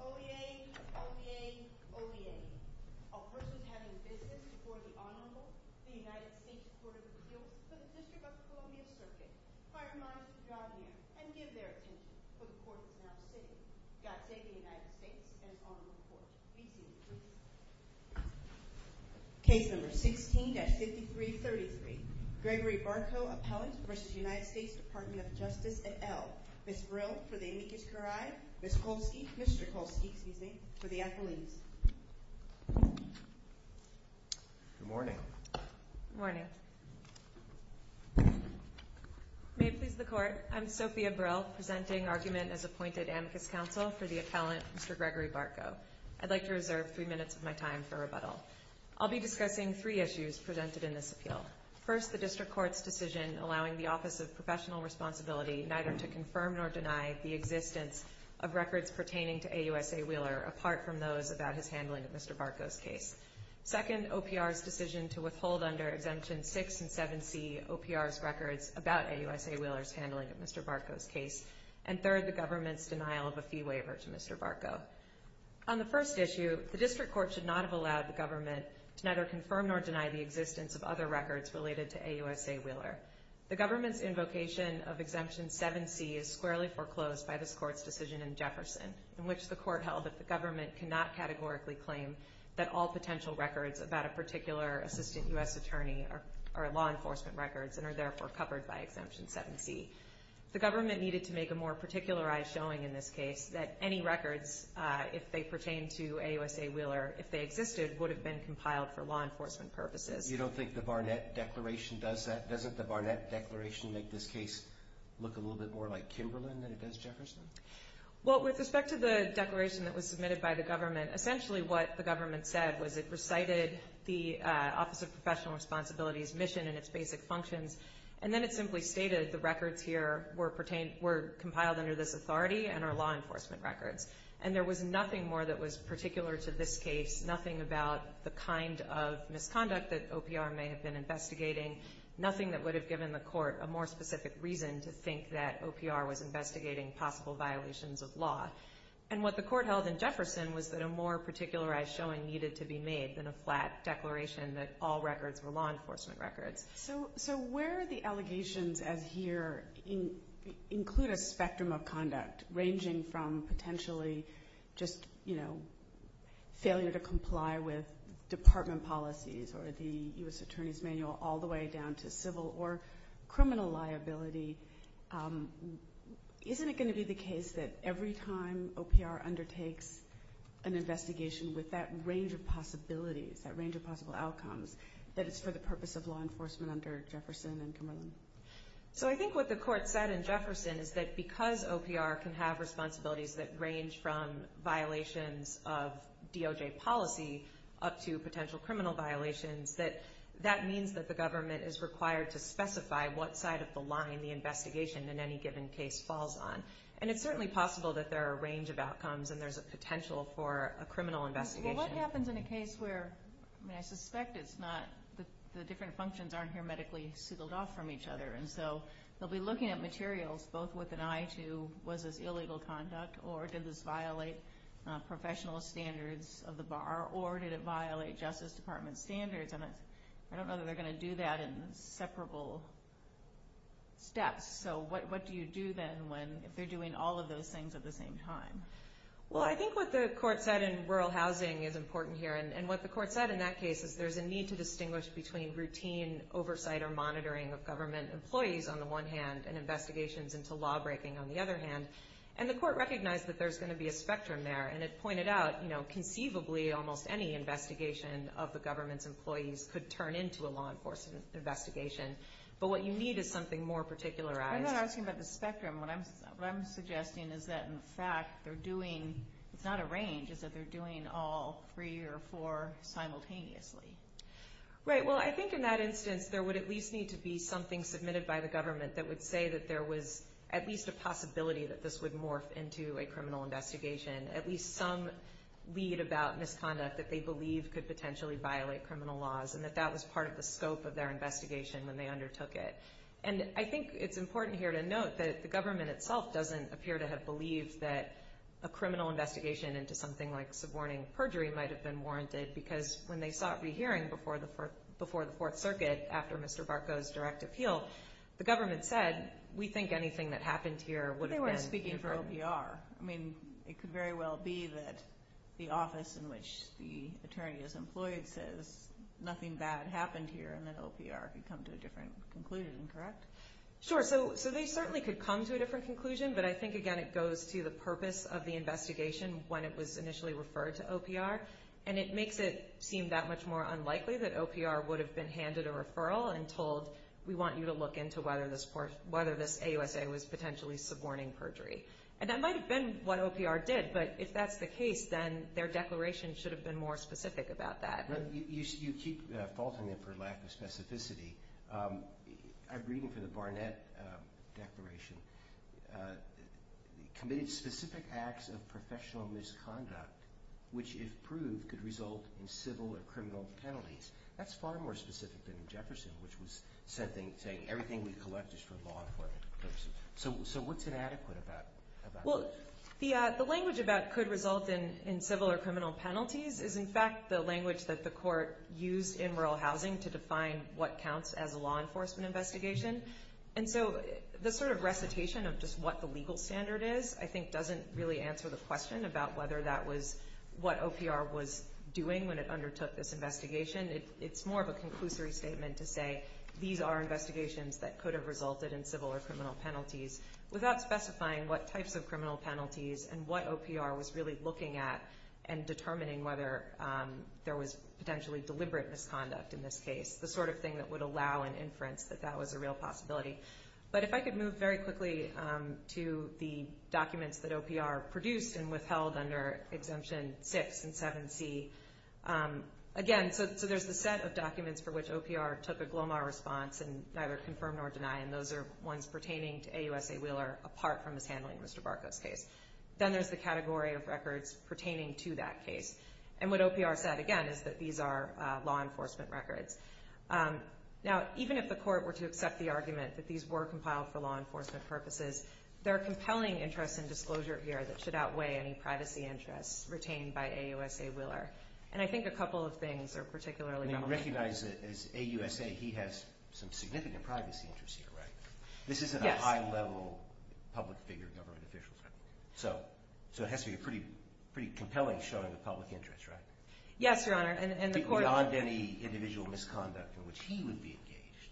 OVA, OVA, OVA, a person having business before the Honorable, the United States Court of Appeals to the District of Columbia Circuit, pardon my misbehavior, and give their attention to the Court of Appeals to the District of Columbia Circuit, God save the United States and the Honorable Court. Please be seated. Case number 16-5333, Gregory Bartko, Appellant v. United States Department of Justice et al., Ms. Brill for the amicus curiae, Mr. Kolsky for the athletes. Good morning. Good morning. May it please the Court, I'm Sophia Brill, presenting argument as appointed amicus counsel for the appellant, Mr. Gregory Bartko. I'd like to reserve three minutes of my time for rebuttal. I'll be discussing three issues presented in this appeal. First, the District Court's decision allowing the Office of Professional Responsibility neither to confirm nor deny the existence of records pertaining to AUSA Wheeler, apart from those about his handling of Mr. Bartko's case. Second, OPR's decision to withhold under Exemption 6 and 7C OPR's records about AUSA Wheeler's handling of Mr. Bartko's case. And third, the government's denial of a fee waiver to Mr. Bartko. On the first issue, the District Court should not have allowed the government to neither confirm nor deny the existence of other records related to AUSA Wheeler. The government's invocation of Exemption 7C is squarely foreclosed by this Court's decision in Jefferson, in which the Court held that the government cannot categorically claim that all potential records about a particular assistant U.S. attorney are law enforcement records and are therefore covered by Exemption 7C. The government needed to make a more particularized showing in this case that any records, if they pertain to AUSA Wheeler, if they existed, would have been compiled for law enforcement purposes. You don't think the Barnett Declaration does that? Doesn't the Barnett Declaration make this case look a little bit more like Kimberlin than it does Jefferson? Well, with respect to the declaration that was submitted by the government, essentially what the government said was it recited the Office of Professional Responsibility's mission and its basic functions, and then it simply stated the records here were compiled under this authority and are law enforcement records. And there was nothing more that was particular to this case, nothing about the kind of misconduct that OPR may have been investigating, nothing that would have given the Court a more specific reason to think that OPR was investigating possible violations of law. And what the Court held in Jefferson was that a more particularized showing needed to be made than a flat declaration that all records were law enforcement records. So where the allegations as here include a spectrum of conduct ranging from potentially just, you know, failure to comply with department policies or the U.S. Attorney's Manual all the way down to civil or criminal liability, isn't it going to be the case that every time OPR undertakes an investigation with that range of possibilities, that range of possible outcomes, that it's for the purpose of law enforcement under Jefferson and Kimberlin? So I think what the Court said in Jefferson is that because OPR can have responsibilities that range from violations of DOJ policy up to potential criminal violations, that that means that the government is required to specify what side of the line the investigation in any given case falls on. And it's certainly possible that there are a range of outcomes and there's a potential for a criminal investigation. So what happens in a case where, I mean, I suspect it's not, the different functions aren't here medically sealed off from each other. And so they'll be looking at materials both with an eye to was this illegal conduct or did this violate professional standards of the bar or did it violate Justice Department standards? And I don't know that they're going to do that in separable steps. So what do you do then when they're doing all of those things at the same time? Well, I think what the Court said in rural housing is important here. And what the Court said in that case is there's a need to distinguish between routine oversight or monitoring of government employees on the one hand and investigations into law breaking on the other hand. And the Court recognized that there's going to be a spectrum there. And it pointed out, you know, conceivably almost any investigation of the government's employees could turn into a law enforcement investigation. But what you need is something more particularized. I'm not asking about the spectrum. What I'm suggesting is that in fact they're doing, it's not a range, is that they're doing all three or four simultaneously. Right. Well, I think in that instance there would at least need to be something submitted by the government that would say that there was at least a possibility that this would morph into a criminal investigation. At least some lead about misconduct that they believe could potentially violate criminal laws and that that was part of the scope of their investigation when they undertook it. And I think it's important here to note that the government itself doesn't appear to have believed that a criminal investigation into something like suborning perjury might have been warranted because when they sought rehearing before the Fourth Circuit after Mr. Barco's direct appeal, the government said we think anything that happened here would have been. But they weren't speaking for OPR. I mean, it could very well be that the office in which the attorney is employed says nothing bad happened here and that OPR could come to a different conclusion, correct? Sure. So they certainly could come to a different conclusion. But I think, again, it goes to the purpose of the investigation when it was initially referred to OPR. And it makes it seem that much more unlikely that OPR would have been handed a referral and told we want you to look into whether this AUSA was potentially suborning perjury. And that might have been what OPR did, but if that's the case, then their declaration should have been more specific about that. You keep faulting me for lack of specificity. I'm reading from the Barnett Declaration. Committed specific acts of professional misconduct which, if proved, could result in civil or criminal penalties. That's far more specific than Jefferson, which was saying everything we collect is for law enforcement purposes. So what's inadequate about that? Well, the language about could result in civil or criminal penalties is, in fact, the language that the court used in rural housing to define what counts as a law enforcement investigation. And so the sort of recitation of just what the legal standard is, I think, doesn't really answer the question about whether that was what OPR was doing when it undertook this investigation. It's more of a conclusory statement to say these are investigations that could have resulted in civil or criminal penalties without specifying what types of criminal penalties and what OPR was really looking at and determining whether there was potentially deliberate misconduct in this case, the sort of thing that would allow an inference that that was a real possibility. But if I could move very quickly to the documents that OPR produced and withheld under Exemption 6 and 7C. Again, so there's the set of documents for which OPR took a GLOMAR response and neither confirmed nor denied. And those are ones pertaining to AUSA Wheeler apart from his handling of Mr. Barco's case. Then there's the category of records pertaining to that case. And what OPR said, again, is that these are law enforcement records. Now, even if the court were to accept the argument that these were compiled for law enforcement purposes, there are compelling interests in disclosure here that should outweigh any privacy interests retained by AUSA Wheeler. And I think a couple of things are particularly relevant. And you recognize that as AUSA, he has some significant privacy interests here, right? Yes. This isn't a high-level public figure government official. So it has to be a pretty compelling showing of public interest, right? Yes, Your Honor. Beyond any individual misconduct in which he would be engaged.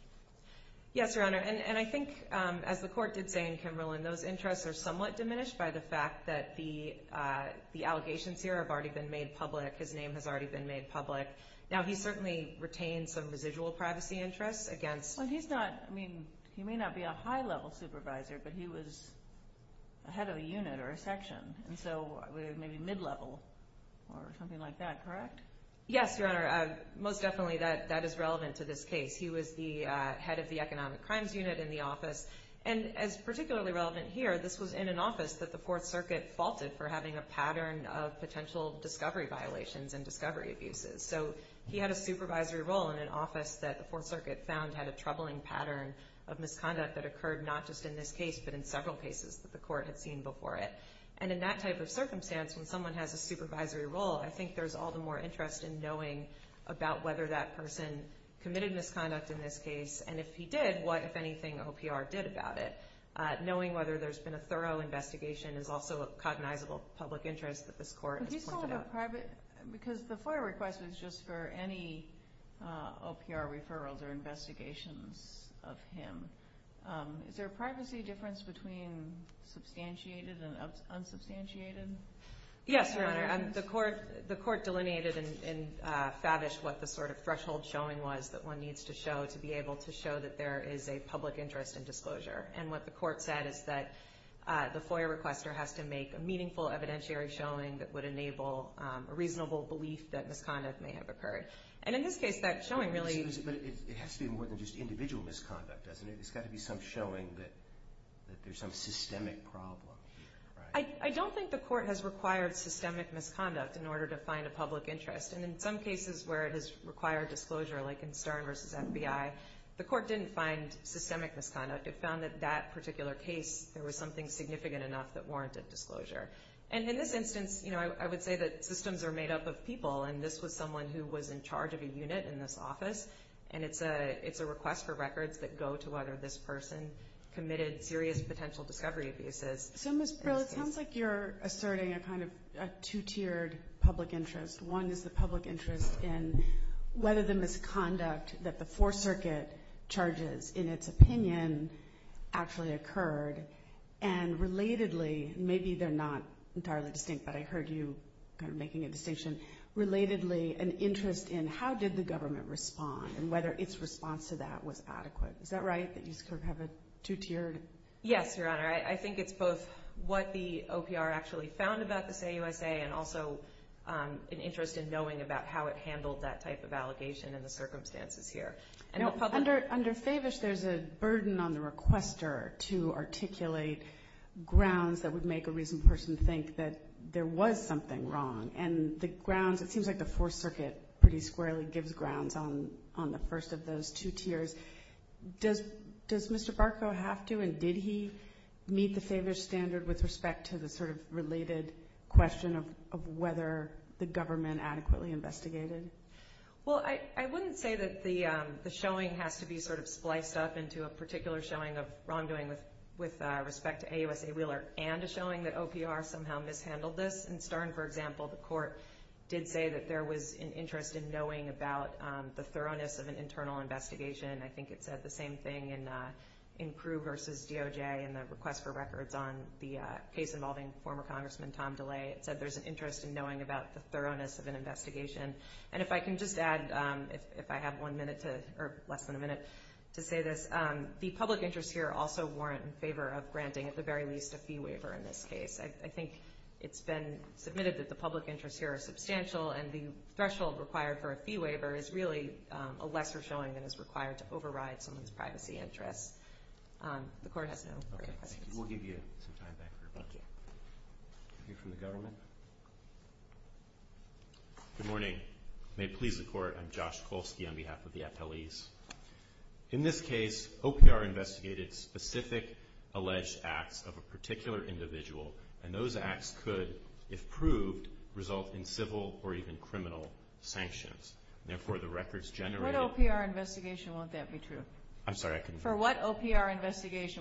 Yes, Your Honor. And I think, as the court did say in Kimberlin, those interests are somewhat diminished by the fact that the allegations here have already been made public. His name has already been made public. Now, he certainly retained some residual privacy interests against— Well, he's not—I mean, he may not be a high-level supervisor, but he was a head of a unit or a section. And so maybe mid-level or something like that, correct? Yes, Your Honor. Most definitely that is relevant to this case. He was the head of the Economic Crimes Unit in the office. And as particularly relevant here, this was in an office that the Fourth Circuit faulted for having a pattern of potential discovery violations and discovery abuses. So he had a supervisory role in an office that the Fourth Circuit found had a troubling pattern of misconduct that occurred not just in this case, but in several cases that the court had seen before it. And in that type of circumstance, when someone has a supervisory role, I think there's all the more interest in knowing about whether that person committed misconduct in this case. And if he did, what, if anything, OPR did about it. Knowing whether there's been a thorough investigation is also a cognizable public interest that this court has pointed out. But he's called a private—because the FOIA request was just for any OPR referrals or investigations of him. Is there a privacy difference between substantiated and unsubstantiated? Yes, Your Honor. The court delineated in Favish what the sort of threshold showing was that one needs to show to be able to show that there is a public interest in disclosure. And what the court said is that the FOIA requester has to make a meaningful evidentiary showing that would enable a reasonable belief that misconduct may have occurred. And in this case, that showing really— But it has to be more than just individual misconduct, doesn't it? It's got to be some showing that there's some systemic problem. I don't think the court has required systemic misconduct in order to find a public interest. And in some cases where it has required disclosure, like in Stern v. FBI, the court didn't find systemic misconduct. It found that that particular case, there was something significant enough that warranted disclosure. And in this instance, I would say that systems are made up of people, and this was someone who was in charge of a unit in this office. And it's a request for records that go to whether this person committed serious potential discovery abuses. So, Ms. Brill, it sounds like you're asserting a kind of two-tiered public interest. One is the public interest in whether the misconduct that the Fourth Circuit charges in its opinion actually occurred. And relatedly, maybe they're not entirely distinct, but I heard you kind of making a distinction. Relatedly, an interest in how did the government respond and whether its response to that was adequate. Is that right, that you sort of have a two-tiered? Yes, Your Honor. I think it's both what the OPR actually found about the say USA and also an interest in knowing about how it handled that type of allegation and the circumstances here. Under Favish, there's a burden on the requester to articulate grounds that would make a reasoned person think that there was something wrong. And the grounds, it seems like the Fourth Circuit pretty squarely gives grounds on the first of those two tiers. Does Mr. Barco have to and did he meet the Favish standard with respect to the sort of related question of whether the government adequately investigated? Well, I wouldn't say that the showing has to be sort of spliced up into a particular showing of wrongdoing with respect to AUSA Wheeler and a showing that OPR somehow mishandled this. In Stern, for example, the court did say that there was an interest in knowing about the thoroughness of an internal investigation. I think it said the same thing in Crewe versus DOJ in the request for records on the case involving former Congressman Tom DeLay. It said there's an interest in knowing about the thoroughness of an investigation. And if I can just add, if I have one minute or less than a minute to say this, the public interest here also weren't in favor of granting at the very least a fee waiver in this case. I think it's been submitted that the public interests here are substantial, and the threshold required for a fee waiver is really a lesser showing than is required to override someone's privacy interests. The court has no further questions. We'll give you some time back for questions. We'll hear from the government. Good morning. May it please the court, I'm Josh Kolsky on behalf of the appellees. In this case, OPR investigated specific alleged acts of a particular individual, and those acts could, if proved, result in civil or even criminal sanctions. Therefore, the records generated... For what OPR investigation will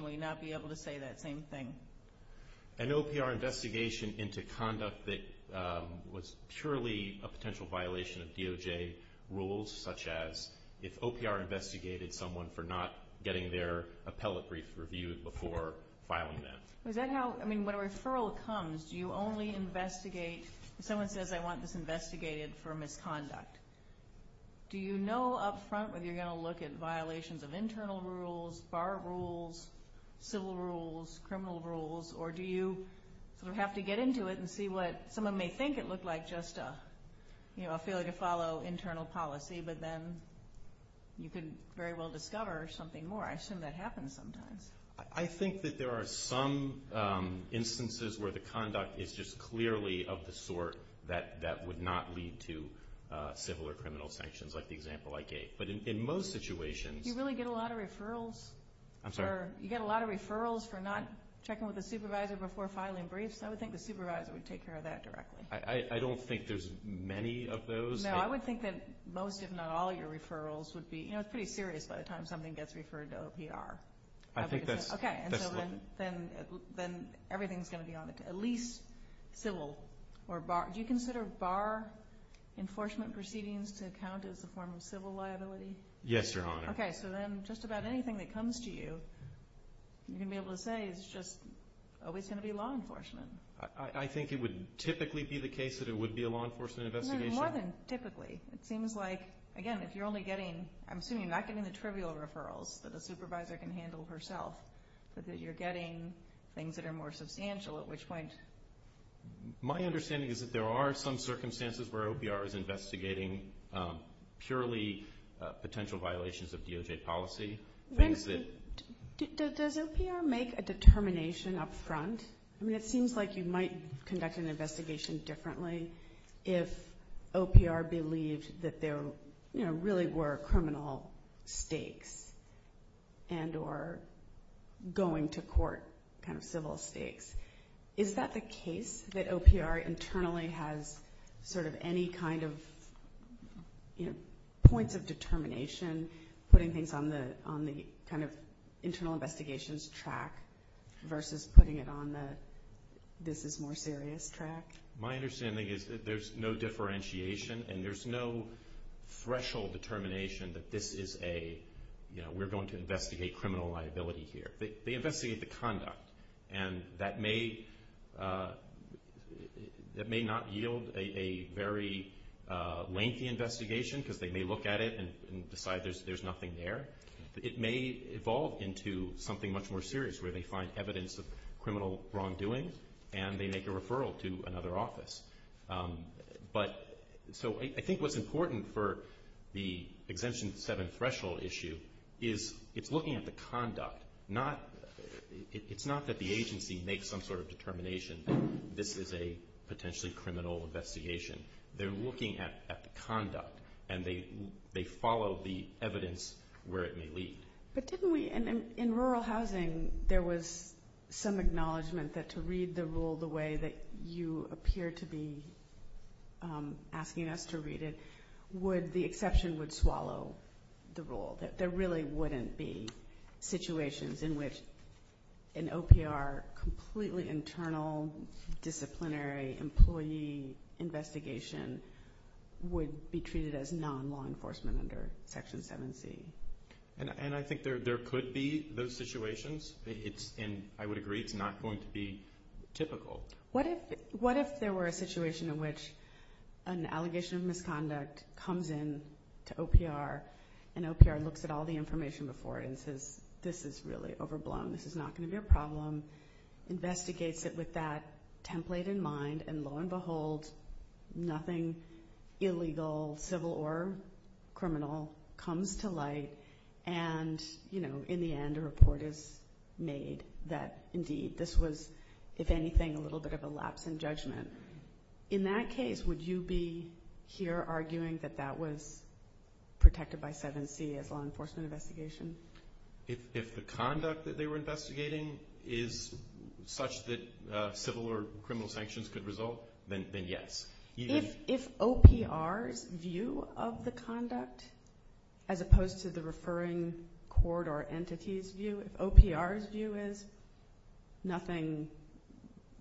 you not be able to say that same thing? An OPR investigation into conduct that was purely a potential violation of DOJ rules, such as if OPR investigated someone for not getting their appellate brief reviewed before filing that? Is that how... I mean, when a referral comes, do you only investigate... If someone says, I want this investigated for misconduct, do you know up front whether you're going to look at violations of internal rules, bar rules, civil rules, criminal rules, or do you sort of have to get into it and see what someone may think it looked like, and not just a failure to follow internal policy, but then you could very well discover something more? I assume that happens sometimes. I think that there are some instances where the conduct is just clearly of the sort that would not lead to civil or criminal sanctions, like the example I gave. But in most situations... Do you really get a lot of referrals? I'm sorry? You get a lot of referrals for not checking with a supervisor before filing briefs? I would think the supervisor would take care of that directly. I don't think there's many of those. No, I would think that most, if not all, of your referrals would be... You know, it's pretty serious by the time something gets referred to OPR. I think that's... Okay, and so then everything's going to be on it, at least civil or bar. Do you consider bar enforcement proceedings to count as a form of civil liability? Yes, Your Honor. Okay, so then just about anything that comes to you, you're going to be able to say it's just always going to be law enforcement. I think it would typically be the case that it would be a law enforcement investigation. More than typically. It seems like, again, if you're only getting... I'm assuming you're not getting the trivial referrals that a supervisor can handle herself, but that you're getting things that are more substantial, at which point... My understanding is that there are some circumstances where OPR is investigating purely potential violations of DOJ policy. Does OPR make a determination up front? I mean, it seems like you might conduct an investigation differently if OPR believed that there really were criminal stakes and or going to court kind of civil stakes. Is that the case, that OPR internally has sort of any kind of points of determination, putting things on the kind of internal investigations track versus putting it on the this is more serious track? My understanding is that there's no differentiation and there's no threshold determination that this is a, you know, we're going to investigate criminal liability here. They investigate the conduct, and that may not yield a very lengthy investigation because they may look at it and decide there's nothing there. It may evolve into something much more serious where they find evidence of criminal wrongdoing and they make a referral to another office. But so I think what's important for the exemption seven threshold issue is it's looking at the conduct. It's not that the agency makes some sort of determination that this is a potentially criminal investigation. They're looking at the conduct, and they follow the evidence where it may lead. But didn't we in rural housing there was some acknowledgement that to read the rule the way that you appear to be asking us to read it would, the exception would swallow the rule, that there really wouldn't be situations in which an OPR completely internal, disciplinary employee investigation would be treated as non-law enforcement under Section 7C? And I think there could be those situations, and I would agree it's not going to be typical. What if there were a situation in which an allegation of misconduct comes in to OPR and OPR looks at all the information before it and says this is really overblown, this is not going to be a problem, investigates it with that template in mind, and lo and behold nothing illegal, civil or criminal, comes to light, and in the end a report is made that indeed this was, if anything, a little bit of a lapse in judgment. In that case, would you be here arguing that that was protected by 7C as law enforcement investigation? If the conduct that they were investigating is such that civil or criminal sanctions could result, then yes. If OPR's view of the conduct as opposed to the referring court or entity's view, if OPR's view is nothing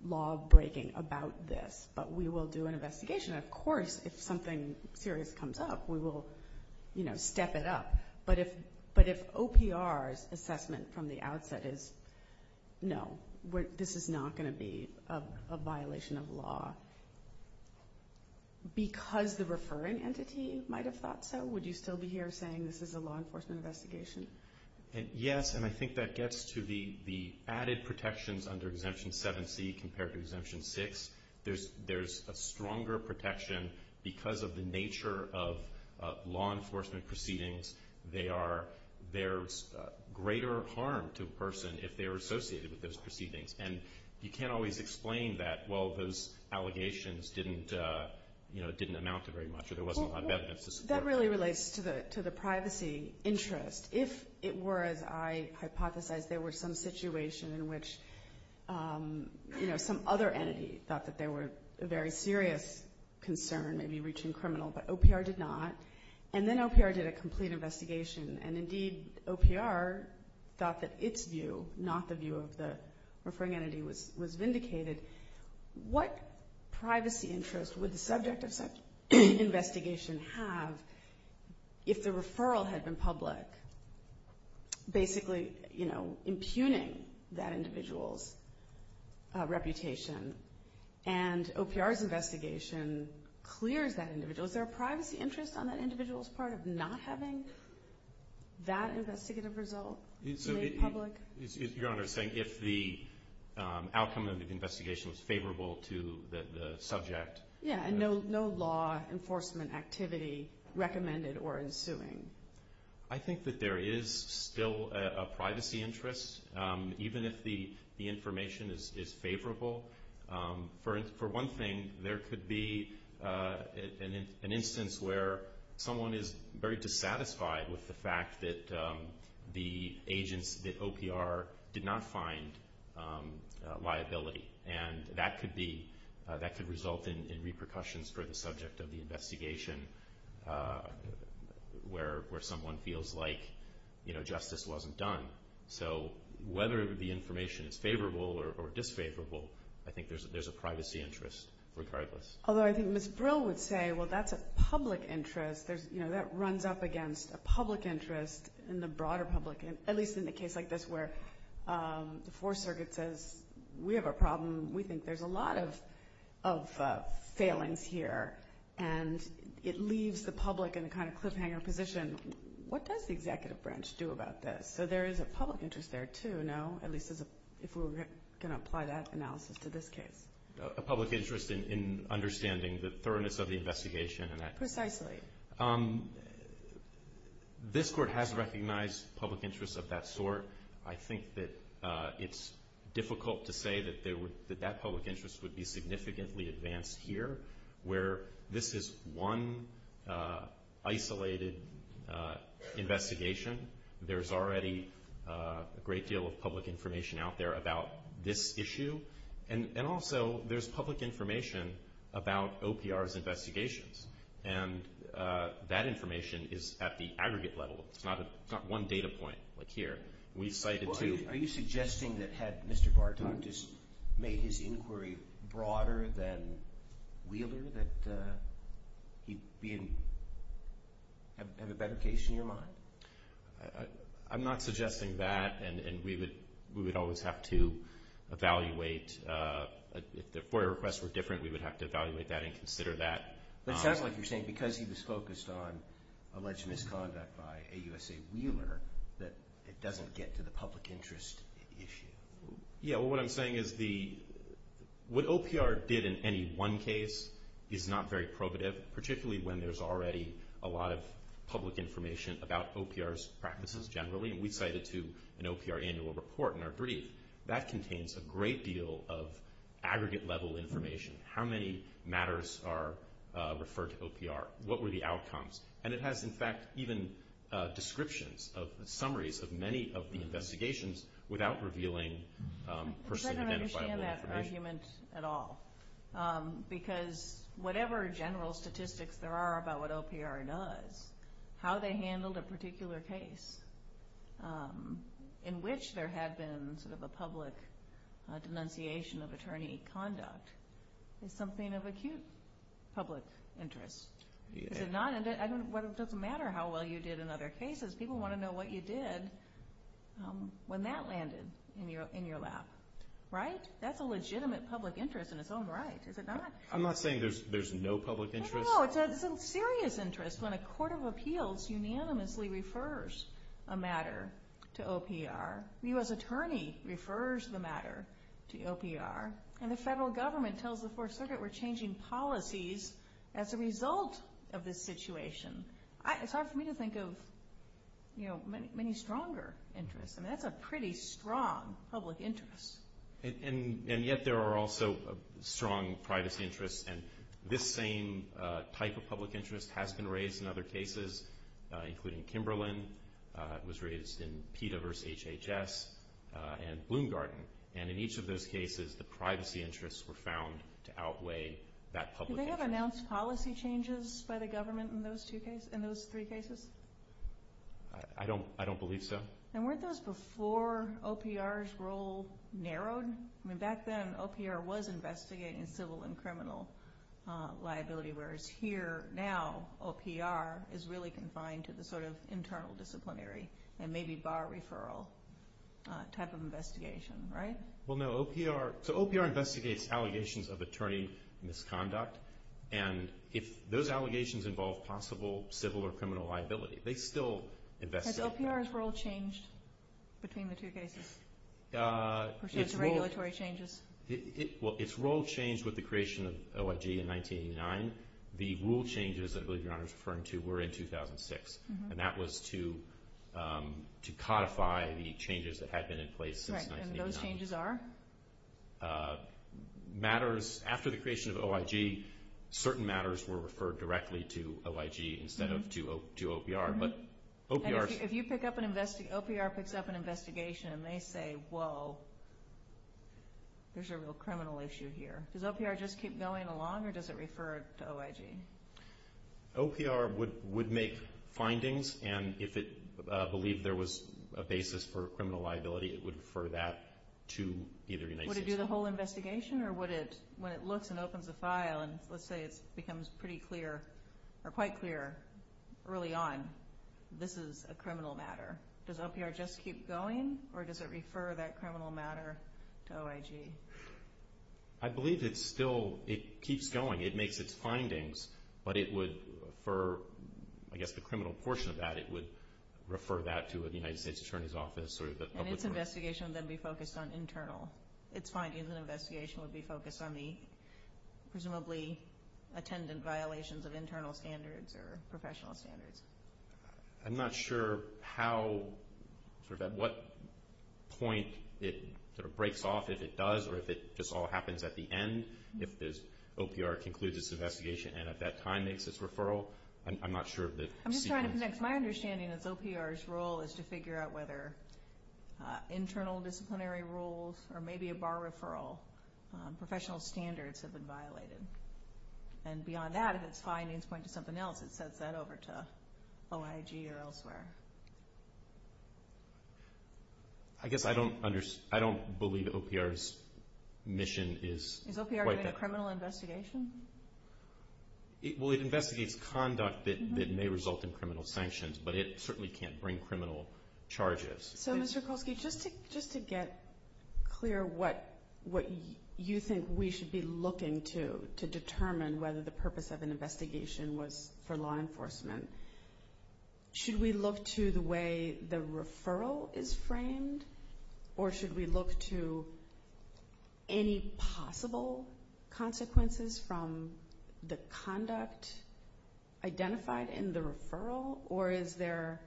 law-breaking about this, but we will do an investigation. Of course, if something serious comes up, we will step it up. But if OPR's assessment from the outset is no, this is not going to be a violation of law, because the referring entity might have thought so, would you still be here saying this is a law enforcement investigation? Yes, and I think that gets to the added protections under Exemption 7C compared to Exemption 6. There's a stronger protection because of the nature of law enforcement proceedings there's greater harm to a person if they're associated with those proceedings. And you can't always explain that, well, those allegations didn't amount to very much or there wasn't a lot of evidence to support that. That really relates to the privacy interest. If it were, as I hypothesized, there were some situation in which some other entity thought that they were a very serious concern, maybe reaching criminal, but OPR did not, and then OPR did a complete investigation, and indeed OPR thought that its view, not the view of the referring entity, was vindicated, what privacy interest would the subject of such an investigation have if the referral had been public, basically impugning that individual's reputation? And OPR's investigation clears that individual. Is there a privacy interest on that individual's part of not having that investigative result made public? Your Honor is saying if the outcome of the investigation was favorable to the subject. Yes, and no law enforcement activity recommended or ensuing. I think that there is still a privacy interest, even if the information is favorable. For one thing, there could be an instance where someone is very dissatisfied with the fact that the agents at OPR did not find liability, and that could result in repercussions for the subject of the investigation where someone feels like justice wasn't done. So whether the information is favorable or disfavorable, I think there's a privacy interest regardless. Although I think Ms. Brill would say, well, that's a public interest. That runs up against a public interest in the broader public, at least in a case like this where the Fourth Circuit says we have a problem. We think there's a lot of failings here, and it leaves the public in a kind of cliffhanger position. What does the Executive Branch do about this? So there is a public interest there, too, no? At least if we're going to apply that analysis to this case. A public interest in understanding the thoroughness of the investigation. Precisely. This Court has recognized public interests of that sort. I think that it's difficult to say that that public interest would be significantly advanced here, where this is one isolated investigation. There's already a great deal of public information out there about this issue, and also there's public information about OPR's investigations, and that information is at the aggregate level. It's not one data point like here. Are you suggesting that had Mr. Bartok just made his inquiry broader than Wheeler that he'd have a better case in your mind? I'm not suggesting that, and we would always have to evaluate. If the FOIA requests were different, we would have to evaluate that and consider that. But it sounds like you're saying because he was focused on alleged misconduct by AUSA Wheeler that it doesn't get to the public interest issue. What I'm saying is what OPR did in any one case is not very probative, particularly when there's already a lot of public information about OPR's practices generally. We cite it to an OPR annual report in our brief. That contains a great deal of aggregate-level information. How many matters are referred to OPR? What were the outcomes? And it has, in fact, even descriptions of summaries of many of the investigations without revealing person-identifiable information. I don't understand that argument at all because whatever general statistics there are about what OPR does, how they handled a particular case in which there had been a public denunciation of attorney conduct is something of acute public interest. It doesn't matter how well you did in other cases. People want to know what you did when that landed in your lap. Right? That's a legitimate public interest in its own right, is it not? I'm not saying there's no public interest. No, it's a serious interest when a court of appeals unanimously refers a matter to OPR. The U.S. attorney refers the matter to OPR. And the federal government tells the Fourth Circuit we're changing policies as a result of this situation. It's hard for me to think of many stronger interests. I mean, that's a pretty strong public interest. And yet there are also strong privacy interests, and this same type of public interest has been raised in other cases, including Kimberlin. It was raised in PETA versus HHS and Bloom Garden. And in each of those cases, the privacy interests were found to outweigh that public interest. Did they have announced policy changes by the government in those three cases? I don't believe so. And weren't those before OPR's role narrowed? I mean, back then OPR was investigating civil and criminal liability, whereas here now OPR is really confined to the sort of internal disciplinary and maybe bar referral type of investigation, right? Well, no. So OPR investigates allegations of attorney misconduct, and if those allegations involve possible civil or criminal liability, they still investigate that. Has OPR's role changed between the two cases? Or should I say regulatory changes? Well, its role changed with the creation of OIG in 1989. The rule changes that I believe Your Honor is referring to were in 2006, and that was to codify the changes that had been in place since 1989. And those changes are? Matters after the creation of OIG, certain matters were referred directly to OIG instead of to OPR. If you pick up an investigation, OPR picks up an investigation and they say, whoa, there's a real criminal issue here, does OPR just keep going along or does it refer to OIG? OPR would make findings, and if it believed there was a basis for criminal liability, it would refer that to either United States Attorney. Would it do the whole investigation or would it, when it looks and opens the file and let's say it becomes pretty clear or quite clear early on, this is a criminal matter, does OPR just keep going or does it refer that criminal matter to OIG? I believe it's still, it keeps going. It makes its findings, but it would, for I guess the criminal portion of that, it would refer that to the United States Attorney's Office. And its investigation would then be focused on internal. Its findings and investigation would be focused on the, presumably, attendant violations of internal standards or professional standards. I'm not sure how, at what point it breaks off, if it does or if it just all happens at the end, if OPR concludes its investigation and at that time makes its referral. I'm not sure of the sequence. I'm just trying to connect. My understanding is OPR's role is to figure out whether internal disciplinary rules or maybe a bar referral, professional standards have been violated. And beyond that, if its findings point to something else, it sets that over to OIG or elsewhere. I guess I don't believe OPR's mission is quite that. Is OPR doing a criminal investigation? Well, it investigates conduct that may result in criminal sanctions, but it certainly can't bring criminal charges. So, Mr. Kolsky, just to get clear what you think we should be looking to to determine whether the purpose of an investigation was for law enforcement, should we look to the way the referral is framed or should we look to any possible consequences from the conduct identified in the referral? Or is there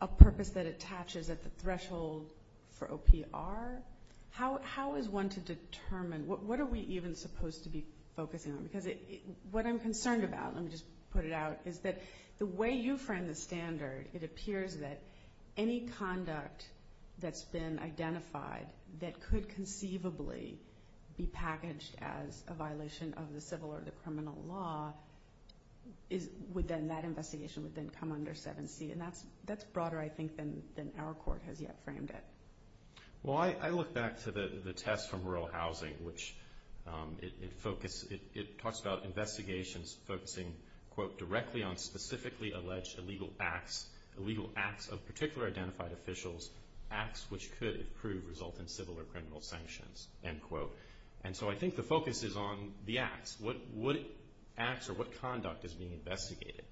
a purpose that attaches at the threshold for OPR? How is one to determine? What are we even supposed to be focusing on? Because what I'm concerned about, let me just put it out, is that the way you frame the standard, it appears that any conduct that's been identified that could conceivably be packaged as a violation of the civil or the criminal law, that investigation would then come under 7C. And that's broader, I think, than our court has yet framed it. Well, I look back to the test from rural housing, which it talks about investigations focusing, quote, directly on specifically alleged illegal acts of particular identified officials, acts which could, it proved, result in civil or criminal sanctions, end quote. And so I think the focus is on the acts. What acts or what conduct is being investigated?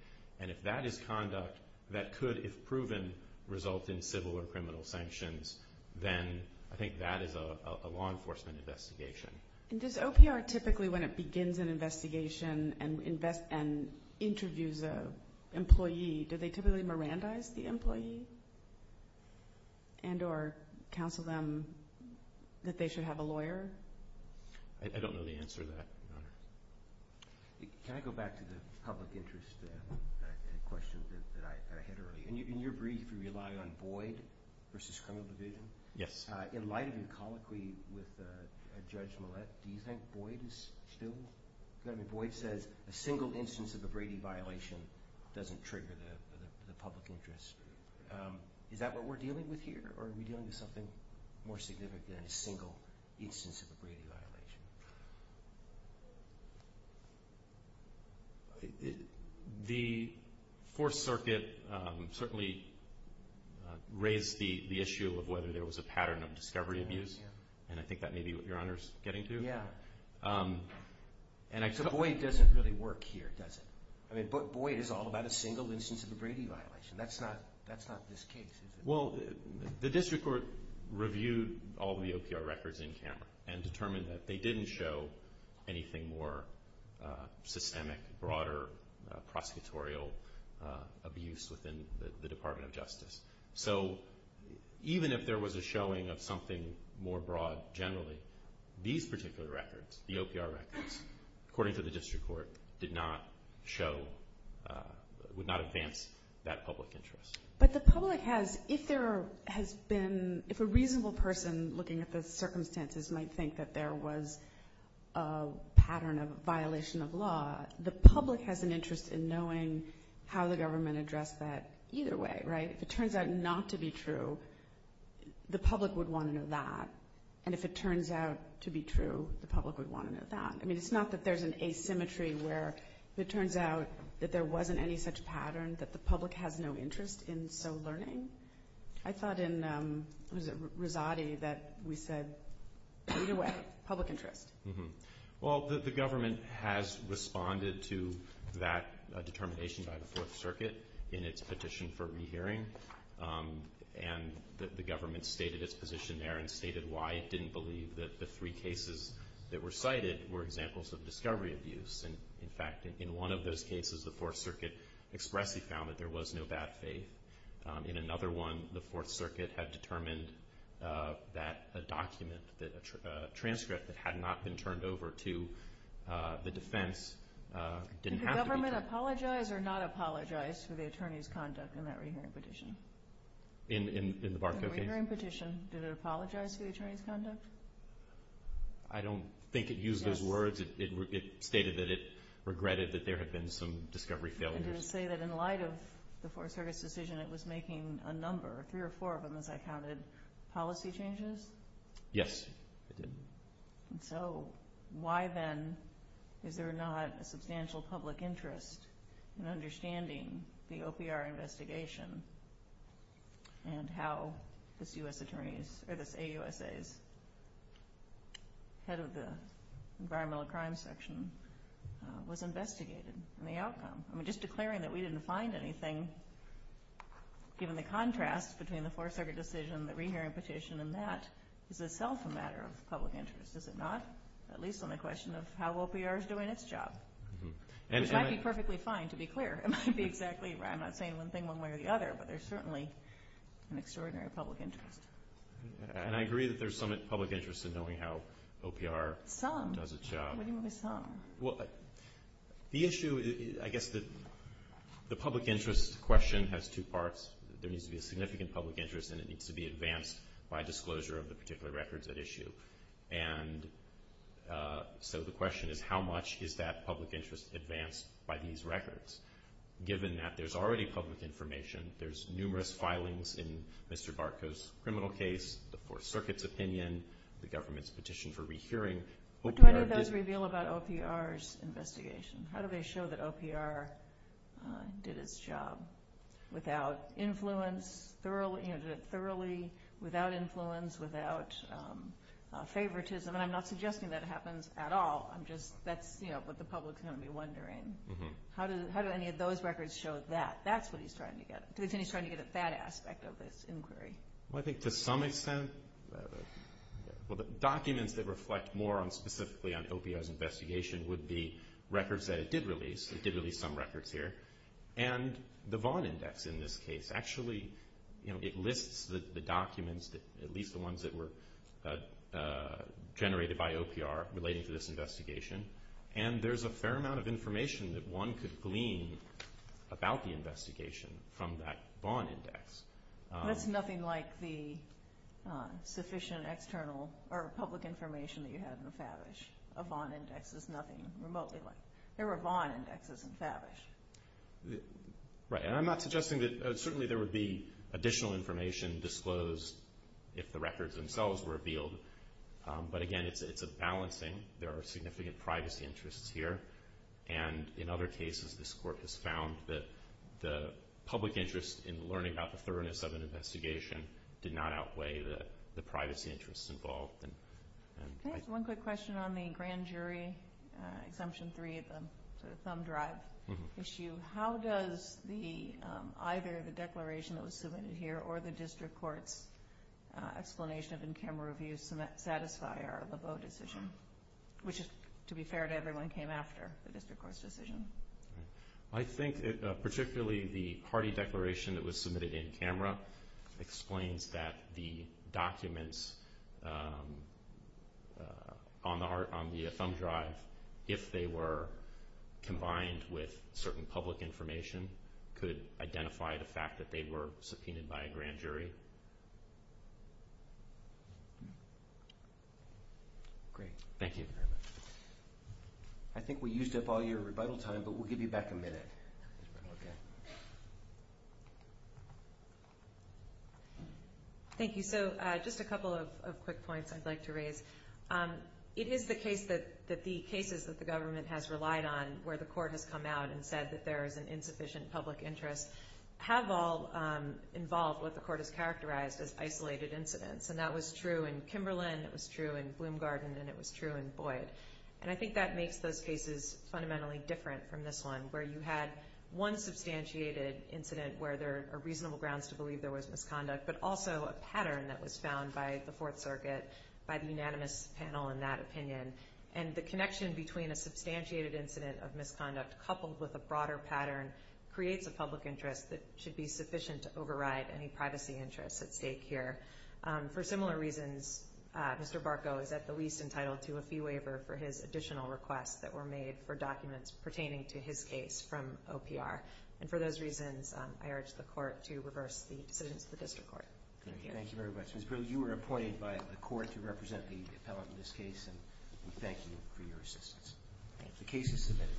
And if that is conduct that could, if proven, result in civil or criminal sanctions, then I think that is a law enforcement investigation. And does OPR typically, when it begins an investigation and interviews an employee, do they typically Mirandize the employee and or counsel them that they should have a lawyer? I don't know the answer to that, Your Honor. Can I go back to the public interest questions that I had earlier? In your brief, you rely on Boyd v. Criminal Division. Yes. In light of your colloquy with Judge Millett, do you think Boyd is still? I mean, Boyd says a single instance of a Brady violation doesn't trigger the public interest. Is that what we're dealing with here, or are we dealing with something more significant than a single instance of a Brady violation? The Fourth Circuit certainly raised the issue of whether there was a pattern of discovery abuse, and I think that may be what Your Honor is getting to. Yeah. So Boyd doesn't really work here, does it? I mean, Boyd is all about a single instance of a Brady violation. That's not this case, is it? Well, the district court reviewed all the OPR records in camera and determined that they didn't show anything more systemic, broader prosecutorial abuse within the Department of Justice. So even if there was a showing of something more broad generally, these particular records, the OPR records, according to the district court, did not show, would not advance that public interest. But the public has, if there has been, if a reasonable person looking at the circumstances might think that there was a pattern of violation of law, the public has an interest in knowing how the government addressed that either way, right? If it turns out not to be true, the public would want to know that, and if it turns out to be true, the public would want to know that. I mean, it's not that there's an asymmetry where it turns out that there wasn't any such pattern, that the public has no interest in so learning. I thought in Rosati that we said either way, public interest. Well, the government has responded to that determination by the Fourth Circuit in its petition for rehearing, and the government stated its position there and stated why it didn't believe that the three cases that were cited were examples of discovery abuse. In fact, in one of those cases, the Fourth Circuit expressly found that there was no bad faith. In another one, the Fourth Circuit had determined that a document, a transcript that had not been turned over to the defense didn't have to be turned over. Did the government apologize or not apologize for the attorney's conduct in that rehearing petition? In the Barco case? In the rehearing petition, did it apologize for the attorney's conduct? I don't think it used those words. It stated that it regretted that there had been some discovery failures. Did it say that in light of the Fourth Circuit's decision, it was making a number, three or four of them as I counted, policy changes? Yes, it did. So why then is there not a substantial public interest in understanding the OPR investigation and how this AUSA's head of the environmental crime section was investigated and the outcome? I mean, just declaring that we didn't find anything, given the contrast between the Fourth Circuit decision, the rehearing petition, and that is itself a matter of public interest, is it not? At least on the question of how OPR is doing its job, which might be perfectly fine, to be clear. It might be exactly right. I'm not saying one thing one way or the other, but there's certainly an extraordinary public interest. And I agree that there's some public interest in knowing how OPR does its job. Some? What do you mean by some? The issue, I guess the public interest question has two parts. There needs to be a significant public interest, and it needs to be advanced by disclosure of the particular records at issue. And so the question is how much is that public interest advanced by these records? Given that there's already public information, there's numerous filings in Mr. Barkow's criminal case, the Fourth Circuit's opinion, the government's petition for rehearing. What do any of those reveal about OPR's investigation? How do they show that OPR did its job? Without influence, thoroughly, without influence, without favoritism? And I'm not suggesting that it happens at all. That's what the public's going to be wondering. How do any of those records show that? That's what he's trying to get at. He's trying to get at that aspect of this inquiry. Well, I think to some extent documents that reflect more specifically on OPR's investigation would be records that it did release. It did release some records here. And the Vaughn Index in this case actually lists the documents, at least the ones that were generated by OPR relating to this investigation, and there's a fair amount of information that one could glean about the investigation from that Vaughn Index. That's nothing like the sufficient external or public information that you have in the Favish. A Vaughn Index is nothing remotely like that. There were Vaughn Indexes in Favish. Right. And I'm not suggesting that certainly there would be additional information disclosed if the records themselves were revealed. But, again, it's a balancing. There are significant privacy interests here, and in other cases this Court has found that the public interest in learning about the thoroughness of an investigation did not outweigh the privacy interests involved. Thanks. One quick question on the grand jury, Exemption 3, the thumb drive issue. How does either the declaration that was submitted here or the district court's explanation of in-camera review satisfy our Laveau decision, which, to be fair to everyone, came after the district court's decision? I think particularly the Hardy Declaration that was submitted in camera explains that the documents on the thumb drive, if they were combined with certain public information, could identify the fact that they were subpoenaed by a grand jury. Great. Thank you. I think we used up all your rebuttal time, but we'll give you back a minute. Thank you. So just a couple of quick points I'd like to raise. It is the case that the cases that the government has relied on, where the Court has come out and said that there is an insufficient public interest, have all involved what the Court has characterized as isolated incidents. And that was true in Kimberlin. It was true in Bloomgarden. And it was true in Boyd. And I think that makes those cases fundamentally different from this one, where you had one substantiated incident where there are reasonable grounds to believe there was misconduct, but also a pattern that was found by the Fourth Circuit, by the unanimous panel in that opinion. And the connection between a substantiated incident of misconduct coupled with a broader pattern creates a public interest that should be sufficient to override any privacy interests at stake here. For similar reasons, Mr. Barco is at the least entitled to a fee waiver for his additional requests that were made for documents pertaining to his case from OPR. And for those reasons, I urge the Court to reverse the decisions of the District Court. Thank you. Thank you very much. Ms. Pearl, you were appointed by the Court to represent the appellate in this case, and we thank you for your assistance. Thank you. The case is submitted.